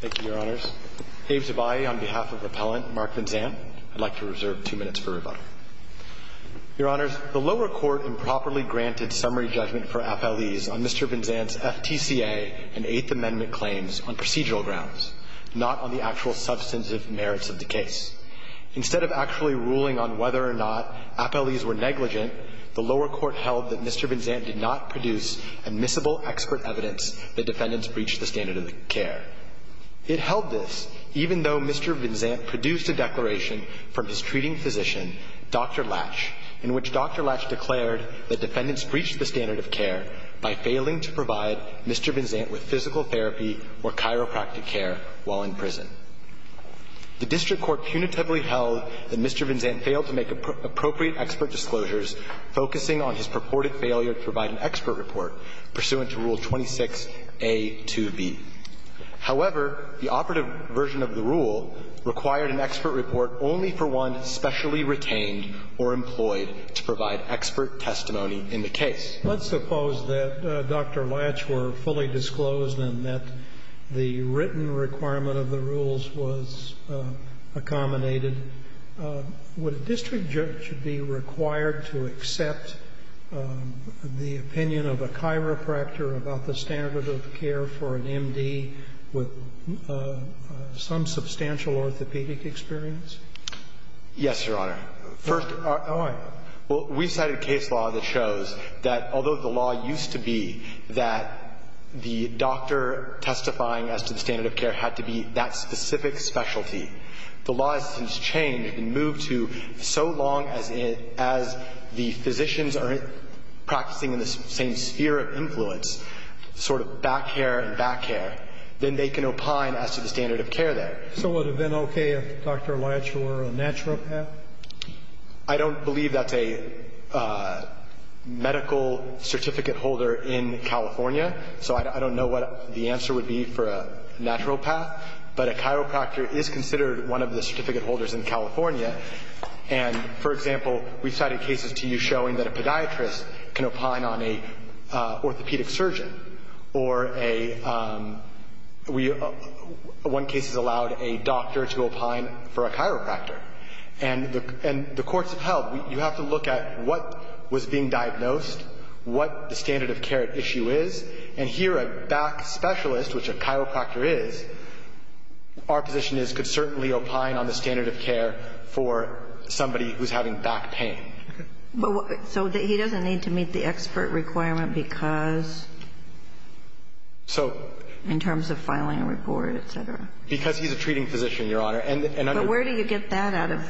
Thank you, Your Honors. Abe Zubayi on behalf of the appellant, Mark Vinzant. I'd like to reserve two minutes for rebuttal. Your Honors, the lower court improperly granted summary judgment for appellees on Mr. Vinzant's FTCA and Eighth Amendment claims on procedural grounds, not on the actual substantive merits of the case. Instead of actually ruling on whether or not appellees were negligent, the lower court held that Mr. Vinzant did not produce admissible expert evidence that defendants breached the standard of care. It held this, even though Mr. Vinzant produced a declaration from his treating physician, Dr. Latch, in which Dr. Latch declared that defendants breached the standard of care by failing to provide Mr. Vinzant with physical therapy or chiropractic care while in prison. The district court punitively held that Mr. Vinzant failed to make appropriate expert disclosures focusing on his purported failure to provide an expert report pursuant to Rule 26A2B. However, the operative version of the rule required an expert report only for one specially retained or employed to provide expert testimony in the case. Sotomayor, let's suppose that Dr. Latch were fully disclosed and that the written requirement of the rules was accommodated. Would a district judge be required to accept the opinion of a chiropractor about the standard of care for an M.D. with some substantial orthopedic experience? Yes, Your Honor. First of all, we cited case law that shows that although the law used to be that the doctor testifying as to the standard of care had to be that specific specialty, the law has since changed and moved to so long as the physicians are practicing in the same sphere of influence, sort of back hair and back hair, then they can opine as to the standard of care there. So would it have been okay if Dr. Latch were a naturopath? I don't believe that's a medical certificate holder in California, so I don't know what the answer would be for a naturopath. But a chiropractor is considered one of the certificate holders in California. And, for example, we cited cases to you showing that a podiatrist can opine on an orthopedic surgeon or a one case has allowed a doctor to opine for a chiropractor. And the courts have held you have to look at what was being diagnosed, what the standard of care issue is, and here a back specialist, which a chiropractor is, our position is could certainly opine on the standard of care for somebody who's having back pain. So he doesn't need to meet the expert requirement because? So. In terms of filing a report, et cetera. Because he's a treating physician, Your Honor. But where do you get that out of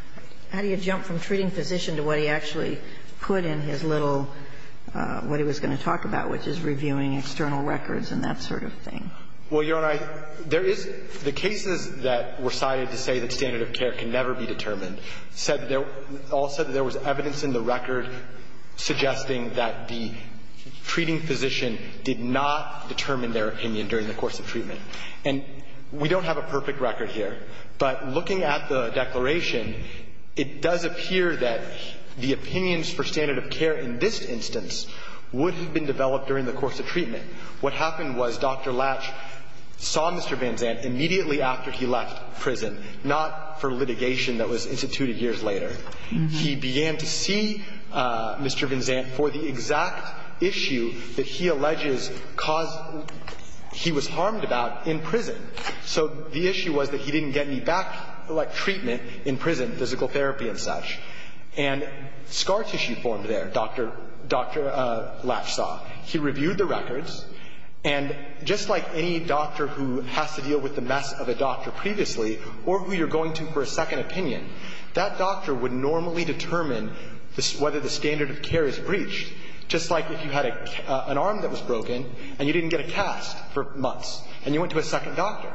– how do you jump from treating physician to what he actually put in his little – what he was going to talk about, which is reviewing external records and that sort of thing? Well, Your Honor, there is – the cases that were cited to say that standard of care can never be determined said – all said that there was evidence in the record suggesting that the treating physician did not determine their opinion during the course of treatment. And we don't have a perfect record here, but looking at the declaration, it does appear that the opinions for standard of care in this instance would have been developed during the course of treatment. What happened was Dr. Latch saw Mr. Van Zandt immediately after he left prison, not for litigation that was instituted years later. He began to see Mr. Van Zandt for the exact issue that he alleges caused – he was harmed about in prison. So the issue was that he didn't get any back treatment in prison, physical therapy and such. And scar tissue formed there, Dr. Latch saw. He reviewed the records. And just like any doctor who has to deal with the mess of a doctor previously or who you're going to for a second opinion, that doctor would normally determine whether the standard of care is breached, just like if you had an arm that was broken and you didn't get a cast for months. And you went to a second doctor.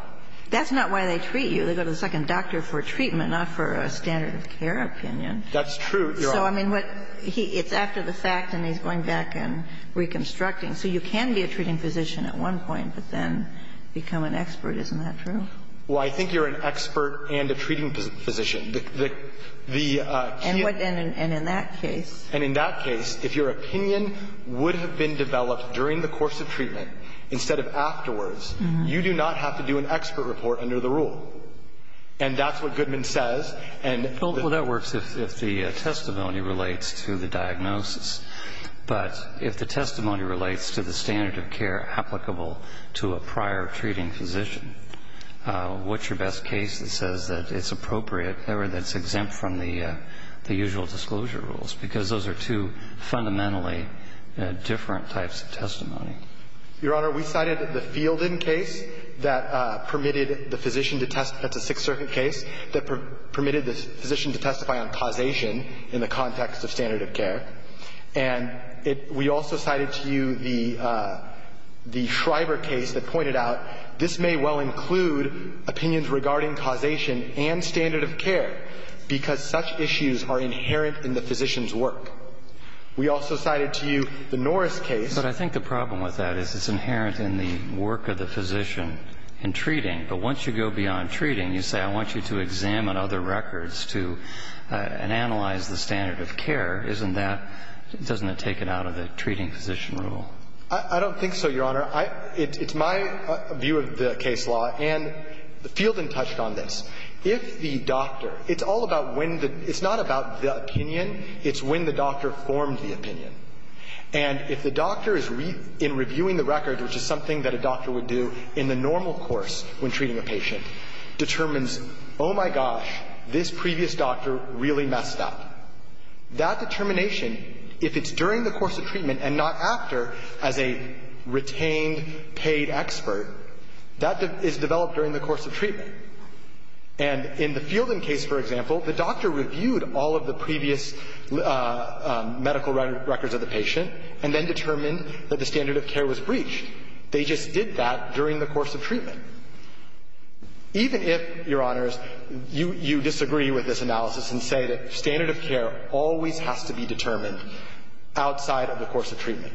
That's not why they treat you. They go to the second doctor for treatment, not for a standard of care opinion. That's true. You're right. So, I mean, what – it's after the fact and he's going back and reconstructing. So you can be a treating physician at one point, but then become an expert. Isn't that true? Well, I think you're an expert and a treating physician. The – the – And what – and in that case? And in that case, if your opinion would have been developed during the course of treatment instead of afterwards, you do not have to do an expert report under the rule. And that's what Goodman says. And – Well, that works if the testimony relates to the diagnosis. But if the testimony relates to the standard of care applicable to a prior treating physician, what's your best case that says that it's appropriate, or that it's exempt from the usual disclosure rules? Because those are two fundamentally different types of testimony. Your Honor, we cited the Fielden case that permitted the physician to test – that's a Sixth Circuit case – that permitted the physician to testify on causation in the context of standard of care. And we also cited to you the Schreiber case that pointed out this may well include opinions regarding causation and standard of care because such issues are inherent in the physician's work. We also cited to you the Norris case. But I think the problem with that is it's inherent in the work of the physician in treating. But once you go beyond treating, you say I want you to examine other records to – and analyze the standard of care. Isn't that – doesn't it take it out of the treating physician rule? I don't think so, Your Honor. It's my view of the case law. And Fielden touched on this. If the doctor – it's all about when the – it's not about the opinion. It's when the doctor formed the opinion. And if the doctor is – in reviewing the record, which is something that a doctor would do in the normal course when treating a patient, determines, oh, my gosh, this previous doctor really messed up. That determination, if it's during the course of treatment and not after, as a retained, paid expert, that is developed during the course of treatment. And in the Fielden case, for example, the doctor reviewed all of the previous medical records of the patient and then determined that the standard of care was breached. They just did that during the course of treatment. Even if, Your Honors, you disagree with this analysis and say that standard of care always has to be determined outside of the course of treatment,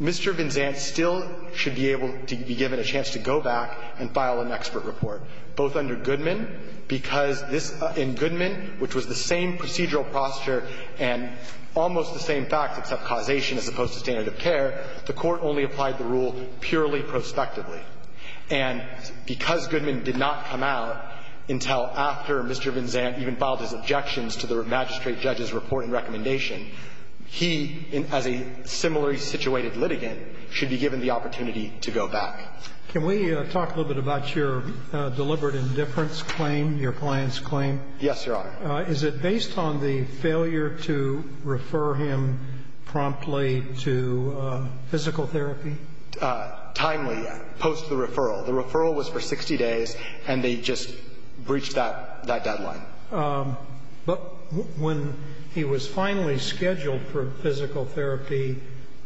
Mr. Vinzant still should be able to be given a chance to go back and file an expert report, both under Mr. Goodman, which was the same procedural posture and almost the same facts except causation as opposed to standard of care. The Court only applied the rule purely prospectively. And because Goodman did not come out until after Mr. Vinzant even filed his objections to the magistrate judge's report and recommendation, he, as a similarly situated litigant, should be given the opportunity to go back. Can we talk a little bit about your deliberate indifference claim, your client's claim? Yes, Your Honor. Is it based on the failure to refer him promptly to physical therapy? Timely, post the referral. The referral was for 60 days, and they just breached that deadline. But when he was finally scheduled for physical therapy,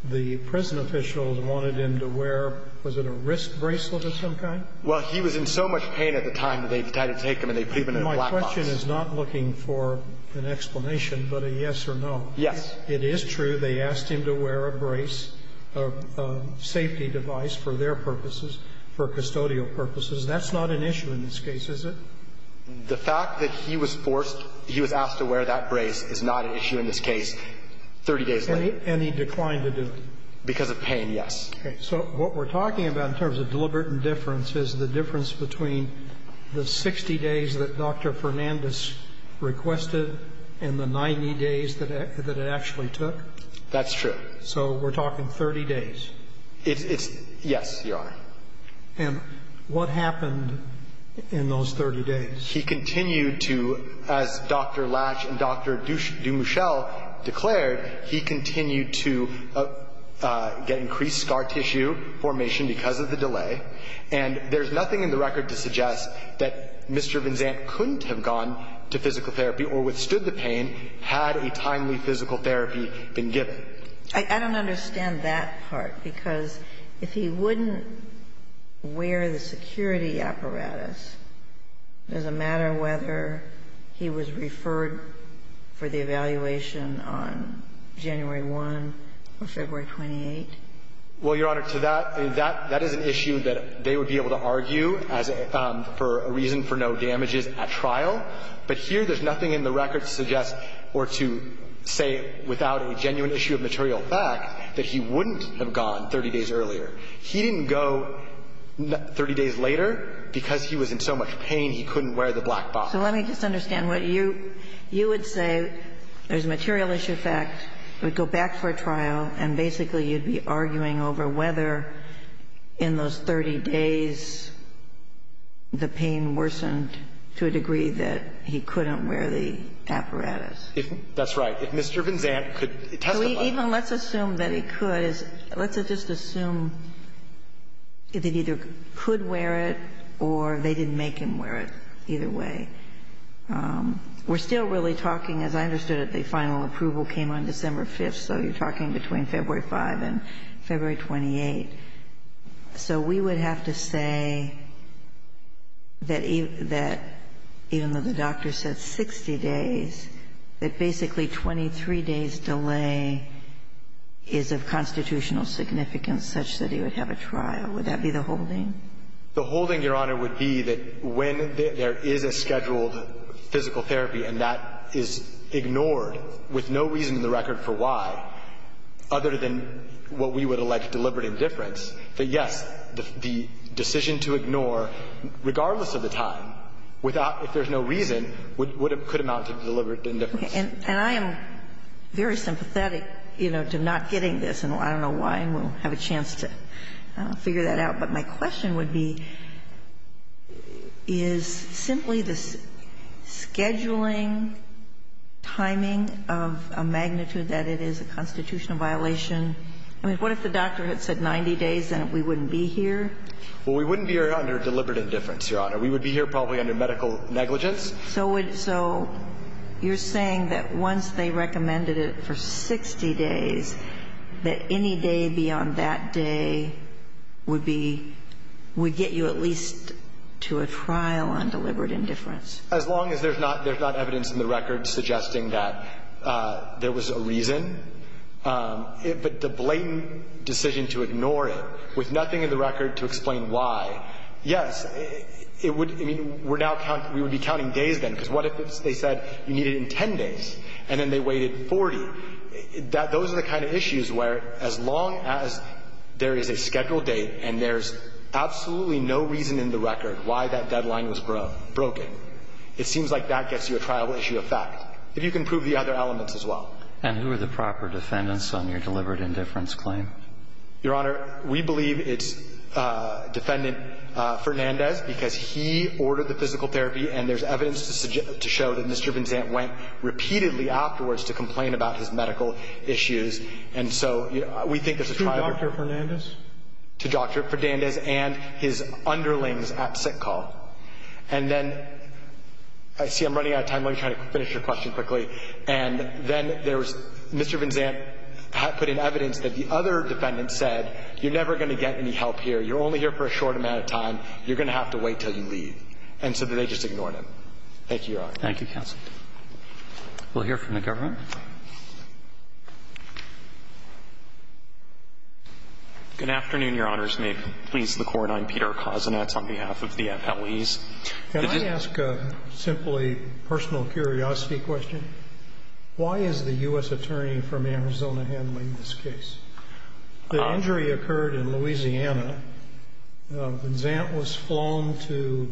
the prison officials wanted him to wear, was it a wrist bracelet of some kind? Well, he was in so much pain at the time that they decided to take him and they put him in a black box. My question is not looking for an explanation, but a yes or no. Yes. It is true they asked him to wear a brace, a safety device for their purposes, for custodial purposes. That's not an issue in this case, is it? The fact that he was forced, he was asked to wear that brace is not an issue in this case 30 days later. And he declined to do it? Because of pain, yes. Okay. So what we're talking about in terms of deliberate indifference is the difference between the 60 days that Dr. Fernandez requested and the 90 days that it actually took? That's true. So we're talking 30 days. It's yes, Your Honor. And what happened in those 30 days? He continued to, as Dr. Latch and Dr. DuMouchel declared, he continued to, get increased scar tissue formation because of the delay. And there's nothing in the record to suggest that Mr. Vinzant couldn't have gone to physical therapy or withstood the pain had a timely physical therapy been given. I don't understand that part, because if he wouldn't wear the security apparatus, does it matter whether he was referred for the evaluation on January 1 or February 28? Well, Your Honor, to that, that is an issue that they would be able to argue as for a reason for no damages at trial. But here there's nothing in the record to suggest or to say without a genuine issue of material fact that he wouldn't have gone 30 days earlier. He didn't go 30 days later because he was in so much pain he couldn't wear the black box. So let me just understand. You would say there's a material issue of fact. He would go back for a trial. And basically you'd be arguing over whether in those 30 days the pain worsened to a degree that he couldn't wear the apparatus. That's right. If Mr. Vinzant could testify. Even let's assume that he could. Let's just assume that he either could wear it or they didn't make him wear it either way. We're still really talking, as I understood it, the final approval came on December 5th, so you're talking between February 5 and February 28. So we would have to say that even though the doctor said 60 days, that basically 23 days delay is of constitutional significance such that he would have a trial. Would that be the holding? The holding, Your Honor, would be that when there is a scheduled physical therapy and that is ignored with no reason in the record for why, other than what we would elect deliberate indifference, that, yes, the decision to ignore, regardless of the time, if there's no reason, could amount to deliberate indifference. And I am very sympathetic, you know, to not getting this, and I don't know why, and we'll have a chance to figure that out. But my question would be, is simply the scheduling timing of a magnitude that it is a constitutional violation, I mean, what if the doctor had said 90 days and we wouldn't be here? Well, we wouldn't be here under deliberate indifference, Your Honor. We would be here probably under medical negligence. So you're saying that once they recommended it for 60 days, that any day beyond that day would be, would get you at least to a trial on deliberate indifference? As long as there's not evidence in the record suggesting that there was a reason, but the blatant decision to ignore it with nothing in the record to explain why, yes, it would, I mean, we're now counting, we would be counting days then, because what if they said you need it in 10 days, and then they waited 40? Those are the kind of issues where as long as there is a scheduled date and there's absolutely no reason in the record why that deadline was broken, it seems like that gets you a trial issue of fact. If you can prove the other elements as well. And who are the proper defendants on your deliberate indifference claim? Your Honor, we believe it's Defendant Fernandez, because he ordered the physical therapy, and there's evidence to show that Mr. Vinzant went repeatedly afterwards to complain about his medical issues. And so we think there's a trial there. To Dr. Fernandez? To Dr. Fernandez and his underlings at sick call. And then, I see I'm running out of time. Let me try to finish your question quickly. And then there was Mr. Vinzant put in evidence that the other defendant said, you're never going to get any help here. You're only here for a short amount of time. You're going to have to wait until you leave. And so they just ignored him. Thank you, Your Honor. Thank you, counsel. We'll hear from the government. Good afternoon, Your Honors. May it please the Court. I'm Peter Kosinatz on behalf of the FLEs. Can I ask a simply personal curiosity question? Why is the U.S. attorney from Arizona handling this case? The injury occurred in Louisiana. Vinzant was flown to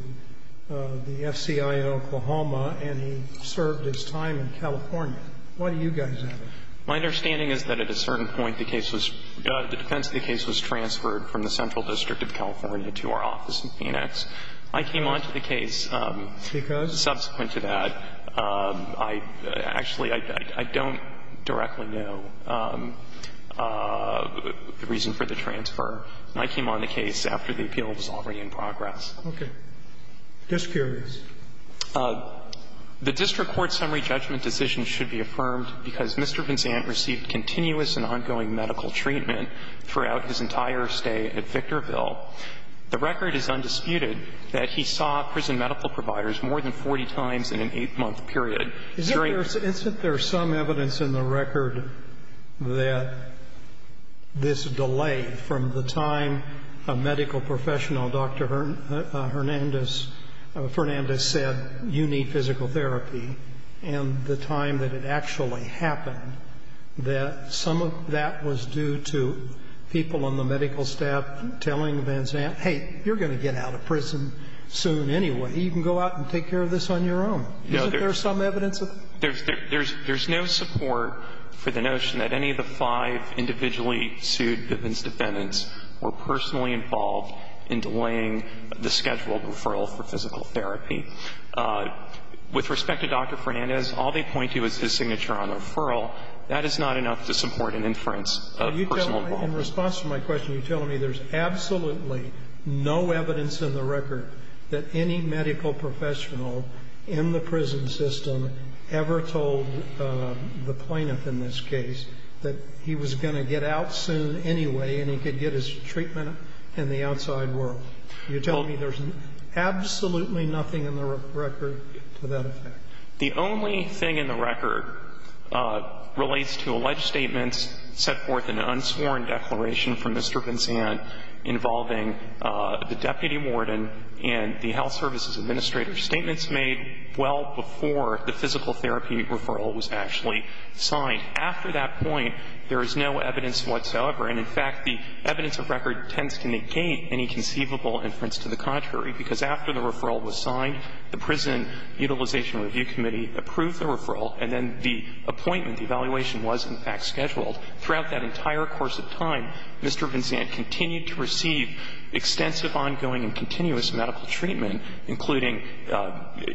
the FCI in Oklahoma, and he served his time in California. Why do you guys have him? My understanding is that at a certain point, the defense of the case was transferred from the Central District of California to our office in Phoenix. I came on to the case. Because? Subsequent to that. Actually, I don't directly know the reason for the transfer. I came on the case after the appeal was already in progress. Okay. Just curious. The district court summary judgment decision should be affirmed because Mr. Vinzant received continuous and ongoing medical treatment throughout his entire stay at Victorville. The record is undisputed that he saw prison medical providers more than 40 times in an eight-month period. Isn't there some evidence in the record that this delayed from the time a medical professional, Dr. Hernandez, said you need physical therapy and the time that it actually happened that some of that was due to people on the medical staff telling Vinzant, hey, you're going to get out of prison soon anyway. You can go out and take care of this on your own. Isn't there some evidence of that? There's no support for the notion that any of the five individually sued Vinzant defendants were personally involved in delaying the scheduled referral for physical therapy. With respect to Dr. Hernandez, all they point to is his signature on referral. That is not enough to support an inference of personal involvement. In response to my question, you're telling me there's absolutely no evidence in the record that any medical professional in the prison system ever told the plaintiff in this case that he was going to get out soon anyway and he could get his treatment in the outside world. You're telling me there's absolutely nothing in the record to that effect? The only thing in the record relates to alleged statements set forth in an unsworn declaration from Mr. Vinzant involving the deputy warden and the health services administrator. Statements made well before the physical therapy referral was actually signed. After that point, there is no evidence whatsoever. And, in fact, the evidence of record tends to negate any conceivable inference to the contrary, because after the referral was signed, the Prison Utilization Review Committee approved the referral and then the appointment, the evaluation was in fact scheduled. Throughout that entire course of time, Mr. Vinzant continued to receive extensive ongoing and continuous medical treatment, including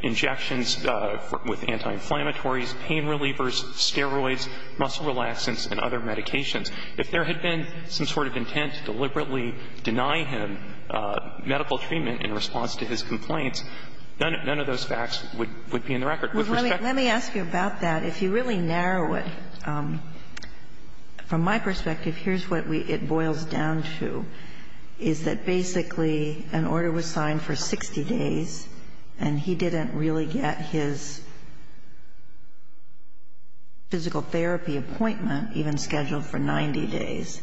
injections with anti-inflammatories, pain relievers, steroids, muscle relaxants and other medications. If there had been some sort of intent to deliberately deny him medical treatment in response to his complaints, none of those facts would be in the record. With respect to the fact that he was going to get out soon anyway anyway. Let me ask you about that. If you really narrow it, from my perspective, here's what we – it boils down to, is that basically an order was signed for 60 days and he didn't really get his physical therapy appointment even scheduled for 90 days.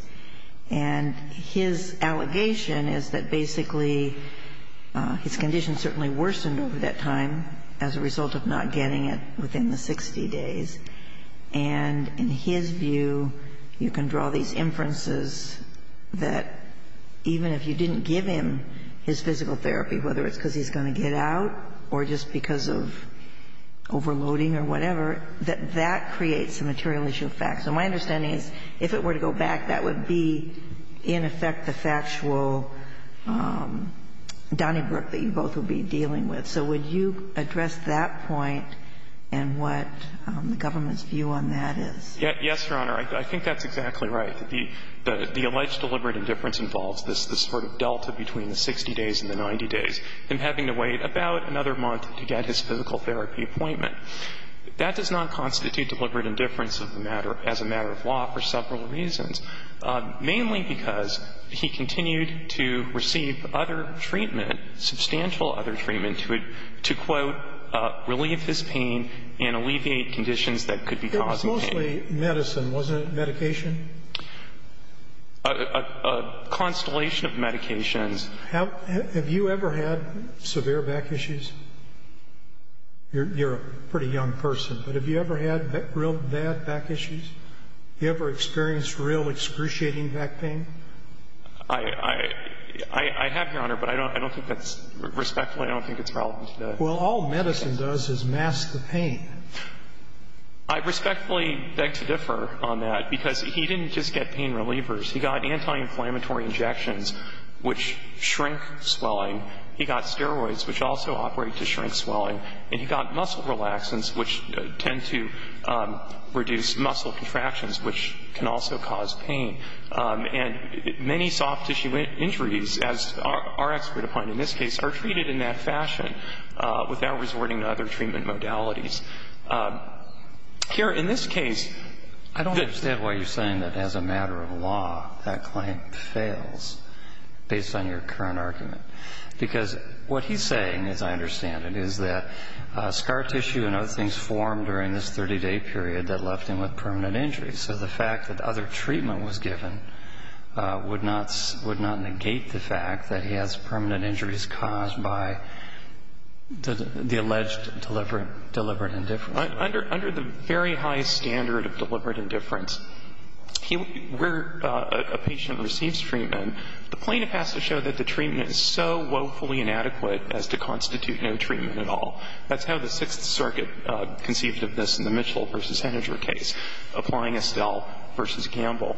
And his allegation is that basically his condition certainly worsened over that time as a result of not getting it within the 60 days. And in his view, you can draw these inferences that even if you didn't give him his physical therapy, whether it's because he's going to get out or just because of overloading or whatever, that that creates a material issue of facts. And my understanding is if it were to go back, that would be, in effect, the factual Donnybrook that you both would be dealing with. So would you address that point and what the government's view on that is? Yes, Your Honor. I think that's exactly right. The alleged deliberate indifference involves this sort of delta between the 60 days and the 90 days, him having to wait about another month to get his physical therapy appointment. That does not constitute deliberate indifference as a matter of law for several reasons, mainly because he continued to receive other treatment, substantial other treatment to, quote, relieve his pain and alleviate conditions that could be causing pain. It was mostly medicine, wasn't it, medication? A constellation of medications. Have you ever had severe back issues? You're a pretty young person, but have you ever had real bad back issues? Have you ever experienced real excruciating back pain? I have, Your Honor, but I don't think that's respectful. I don't think it's relevant today. Well, all medicine does is mask the pain. I respectfully beg to differ on that because he didn't just get pain relievers. He got anti-inflammatory injections, which shrink swelling. He got steroids, which also operate to shrink swelling. And he got muscle relaxants, which tend to reduce muscle contractions, which can also cause pain. And many soft tissue injuries, as our expert opined in this case, are treated in that fashion without resorting to other treatment modalities. Here, in this case the ---- I don't understand why you're saying that as a matter of law, that claim fails based on your current argument. Because what he's saying, as I understand it, is that scar tissue and other things formed during this 30-day period that left him with permanent injuries. So the fact that other treatment was given would not negate the fact that he has permanent injuries caused by the alleged deliberate indifference. Under the very high standard of deliberate indifference, where a patient receives treatment, the plaintiff has to show that the treatment is so woefully inadequate as to constitute no treatment at all. That's how the Sixth Circuit conceived of this in the Mitchell v. Heninger case, applying Estelle v. Gamble.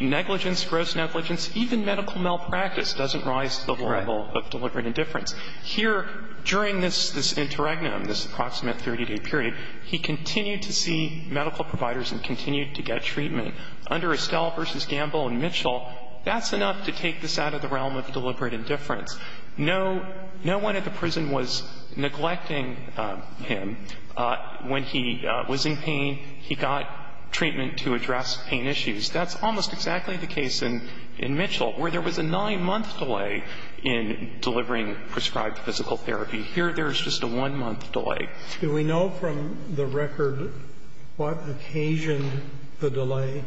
Negligence, gross negligence, even medical malpractice doesn't rise to the level of deliberate indifference. Here, during this interregnum, this approximate 30-day period, he continued to see medical providers and continued to get treatment. Under Estelle v. Gamble in Mitchell, that's enough to take this out of the realm of deliberate indifference. No one at the prison was neglecting him when he was in pain. He got treatment to address pain issues. That's almost exactly the case in Mitchell, where there was a nine-month delay in delivering prescribed physical therapy. Here, there's just a one-month delay. Do we know from the record what occasioned the delay?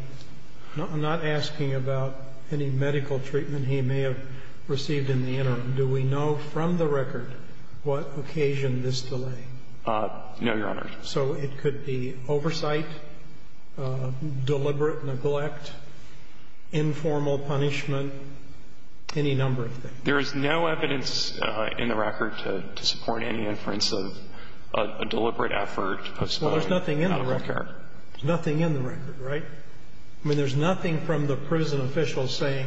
I'm not asking about any medical treatment he may have received in the interim. Do we know from the record what occasioned this delay? No, Your Honor. So it could be oversight, deliberate neglect, informal punishment, any number of things. There is no evidence in the record to support any inference of a deliberate effort. Well, there's nothing in the record. There's nothing in the record, right? I mean, there's nothing from the prison officials saying,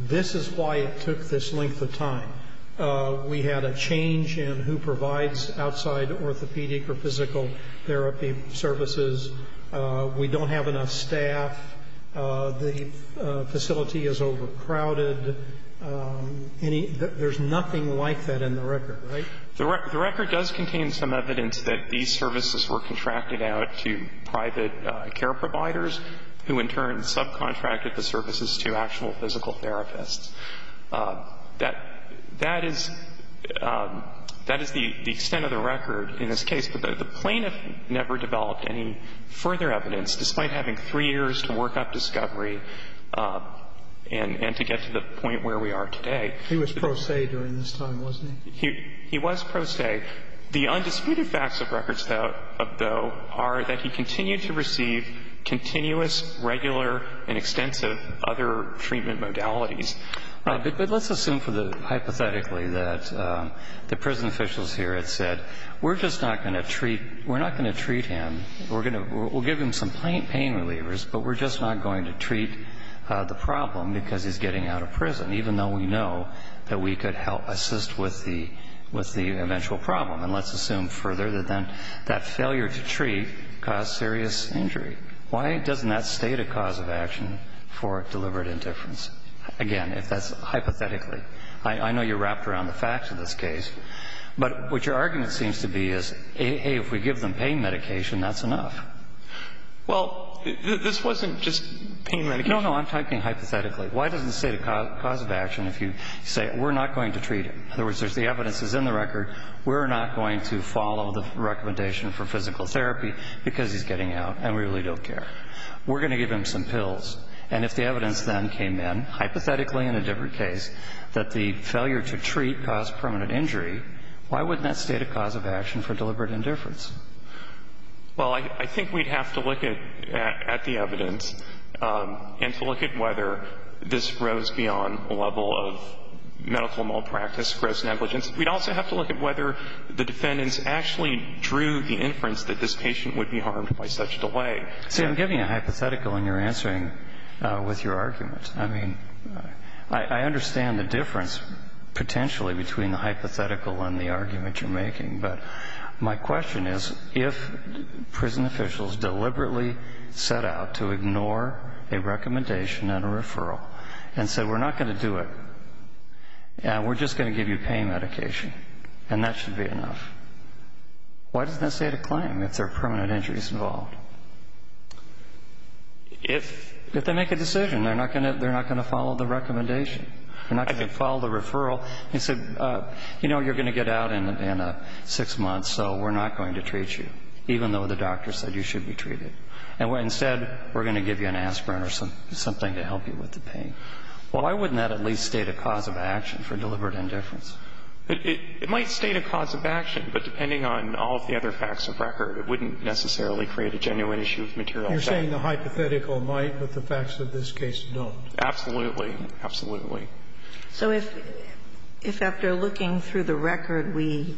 this is why it took this length of time. We had a change in who provides outside orthopedic or physical therapy services. We don't have enough staff. The facility is overcrowded. There's nothing like that in the record, right? The record does contain some evidence that these services were contracted out to private care providers, who in turn subcontracted the services to actual physical therapists. That is the extent of the record in this case. The plaintiff never developed any further evidence, despite having three years to work up discovery and to get to the point where we are today. He was pro se during this time, wasn't he? He was pro se. The undisputed facts of records, though, are that he continued to receive continuous, regular, and extensive other treatment modalities. But let's assume hypothetically that the prison officials here had said, we're just not going to treat him. We'll give him some pain relievers, but we're just not going to treat the problem because he's getting out of prison, even though we know that we could help assist with the eventual problem. And let's assume further that then that failure to treat caused serious injury. Why doesn't that state a cause of action for deliberate indifference? Again, if that's hypothetically. I know you're wrapped around the facts of this case. But what your argument seems to be is, hey, if we give them pain medication, that's enough. Well, this wasn't just pain medication. No, no. I'm talking hypothetically. Why doesn't it state a cause of action if you say, we're not going to treat him? In other words, if the evidence is in the record, we're not going to follow the recommendation for physical therapy because he's getting out and we really don't care. We're going to give him some pills. And if the evidence then came in, hypothetically in a different case, that the failure to treat caused permanent injury, why wouldn't that state a cause of action for deliberate indifference? Well, I think we'd have to look at the evidence and to look at whether this rose beyond a level of medical malpractice, gross negligence. We'd also have to look at whether the defendants actually drew the inference that this patient would be harmed by such delay. See, I'm giving you a hypothetical and you're answering with your argument. I mean, I understand the difference potentially between the hypothetical and the argument you're making. But my question is, if prison officials deliberately set out to ignore a recommendation and a referral and said, we're not going to do it, we're just going to give you pain medication, and that should be enough, why doesn't that state a claim if there are permanent injuries involved? If they make a decision, they're not going to follow the recommendation. They're not going to follow the referral. They said, you know, you're going to get out in six months, so we're not going to treat you, even though the doctor said you should be treated. Instead, we're going to give you an aspirin or something to help you with the pain. Why wouldn't that at least state a cause of action for deliberate indifference? It might state a cause of action, but depending on all of the other facts of record, it wouldn't necessarily create a genuine issue of material effect. You're saying the hypothetical might, but the facts of this case don't. Absolutely. Absolutely. So if after looking through the record, we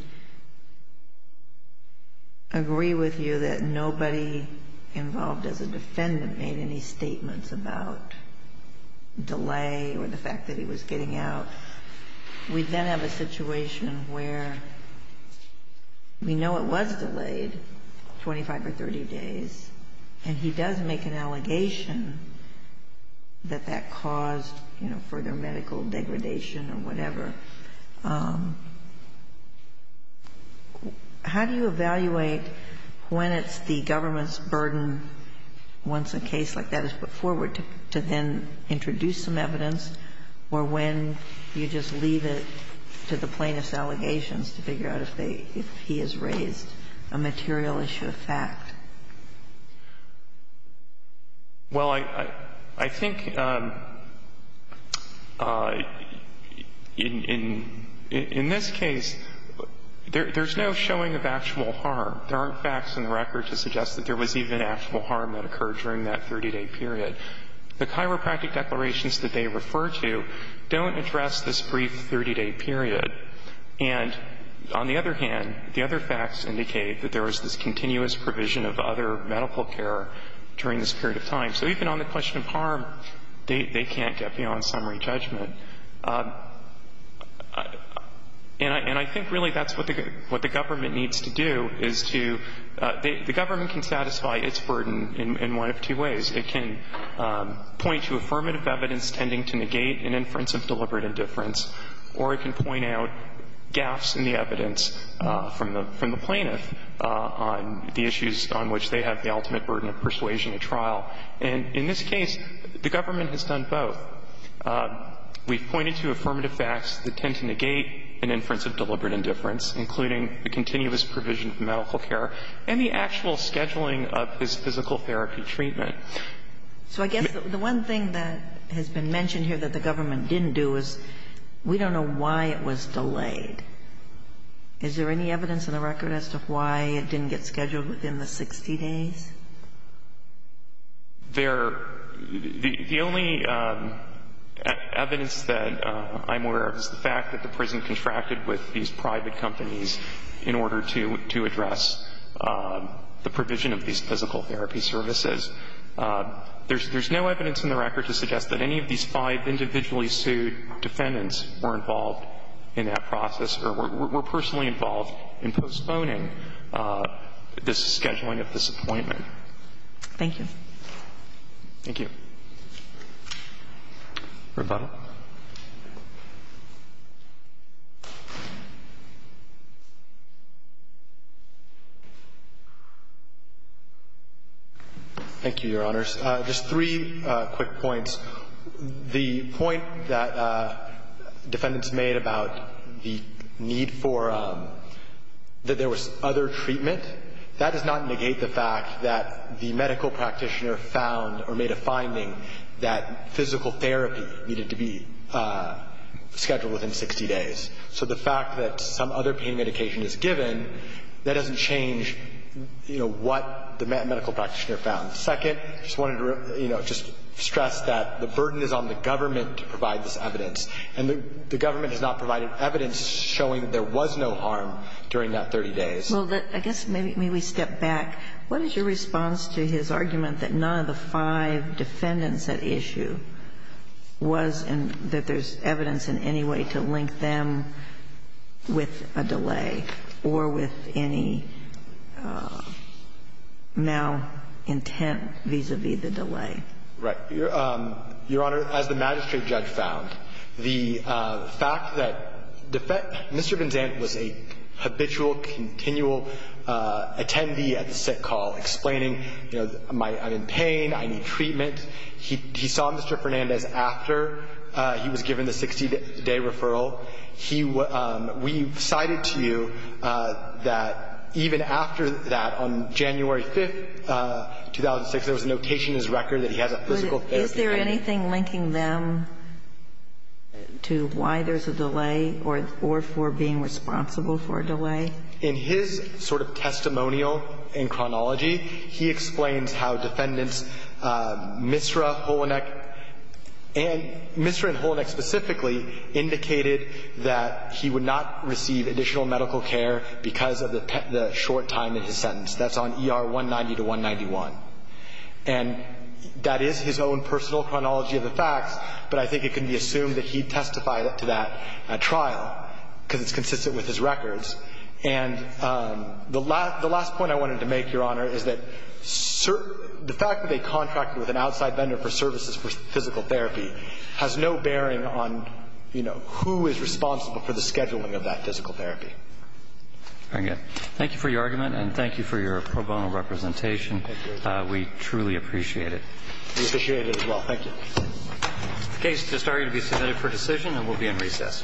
agree with you that nobody involved as a defendant made any statements about delay or the fact that he was getting out, we then have a situation where we know it was delayed 25 or 30 days, and he does make an allegation that that caused, you know, further medical degradation or whatever. How do you evaluate when it's the government's burden, once a case like that is put forward, to then introduce some evidence, or when you just leave it to the plaintiff's allegations to figure out if they – if he has raised a material issue of fact? Well, I think in this case, there's no showing of actual harm. There aren't facts in the record to suggest that there was even actual harm that could have been caused. And the fact is that the government, as a government, has a duty to address the issue of harm, and the fact is that the Chiropractic Declaration, the Chiropractic declarations that they refer to, don't address this brief 30-day period. And on the other hand, the other facts indicate that there was this continuous provision of other medical care during this period of time. So even on the question of harm, they can't get beyond summary judgment. And I think really that's what the government needs to do, is to – the government can satisfy its burden in one of two ways. It can point to affirmative evidence tending to negate an inference of deliberate indifference, or it can point out gaffes in the evidence from the plaintiff on the And in this case, the government has done both. We've pointed to affirmative facts that tend to negate an inference of deliberate indifference, including the continuous provision of medical care and the actual scheduling of his physical therapy treatment. So I guess the one thing that has been mentioned here that the government didn't do is we don't know why it was delayed. Is there any evidence in the record as to why it didn't get scheduled within the 60 days? There – the only evidence that I'm aware of is the fact that the prison contracted with these private companies in order to address the provision of these physical therapy services. There's no evidence in the record to suggest that any of these five individually sued defendants were involved in that process or were personally involved in postponing this scheduling of this appointment. Thank you. Thank you. Rebuttal. Thank you, Your Honors. Just three quick points. First, the point that defendants made about the need for – that there was other treatment, that does not negate the fact that the medical practitioner found or made a finding that physical therapy needed to be scheduled within 60 days. So the fact that some other pain medication is given, that doesn't change, you know, what the medical practitioner found. Second, I just wanted to, you know, just stress that the burden is on the government to provide this evidence. And the government has not provided evidence showing there was no harm during that 30 days. Well, I guess maybe we step back. What is your response to his argument that none of the five defendants at issue was in – that there's evidence in any way to link them with a delay or with any malintent vis-à-vis the delay? Right. Your Honor, as the magistrate judge found, the fact that Mr. Benzant was a habitual, continual attendee at the sick call explaining, you know, I'm in pain, I need treatment. He saw Mr. Fernandez after he was given the 60-day referral. We cited to you that even after that, on January 5th, 2006, there was a notation in his record that he has a physical therapy appointment. But is there anything linking them to why there's a delay or for being responsible for a delay? In his sort of testimonial and chronology, he explains how defendants, Misra, Holoneck, and Misra and Holoneck specifically indicated that he would not receive additional medical care because of the short time in his sentence. That's on ER 190 to 191. And that is his own personal chronology of the facts, but I think it can be assumed that he testified to that at trial because it's consistent with his records. And the last point I wanted to make, Your Honor, is that the fact that they contracted with an outside vendor for services for physical therapy has no bearing on, you know, who is responsible for the scheduling of that physical therapy. Very good. Thank you for your argument and thank you for your pro bono representation. Thank you. We truly appreciate it. We appreciate it as well. Thank you. The case is starting to be submitted for decision and will be in recess.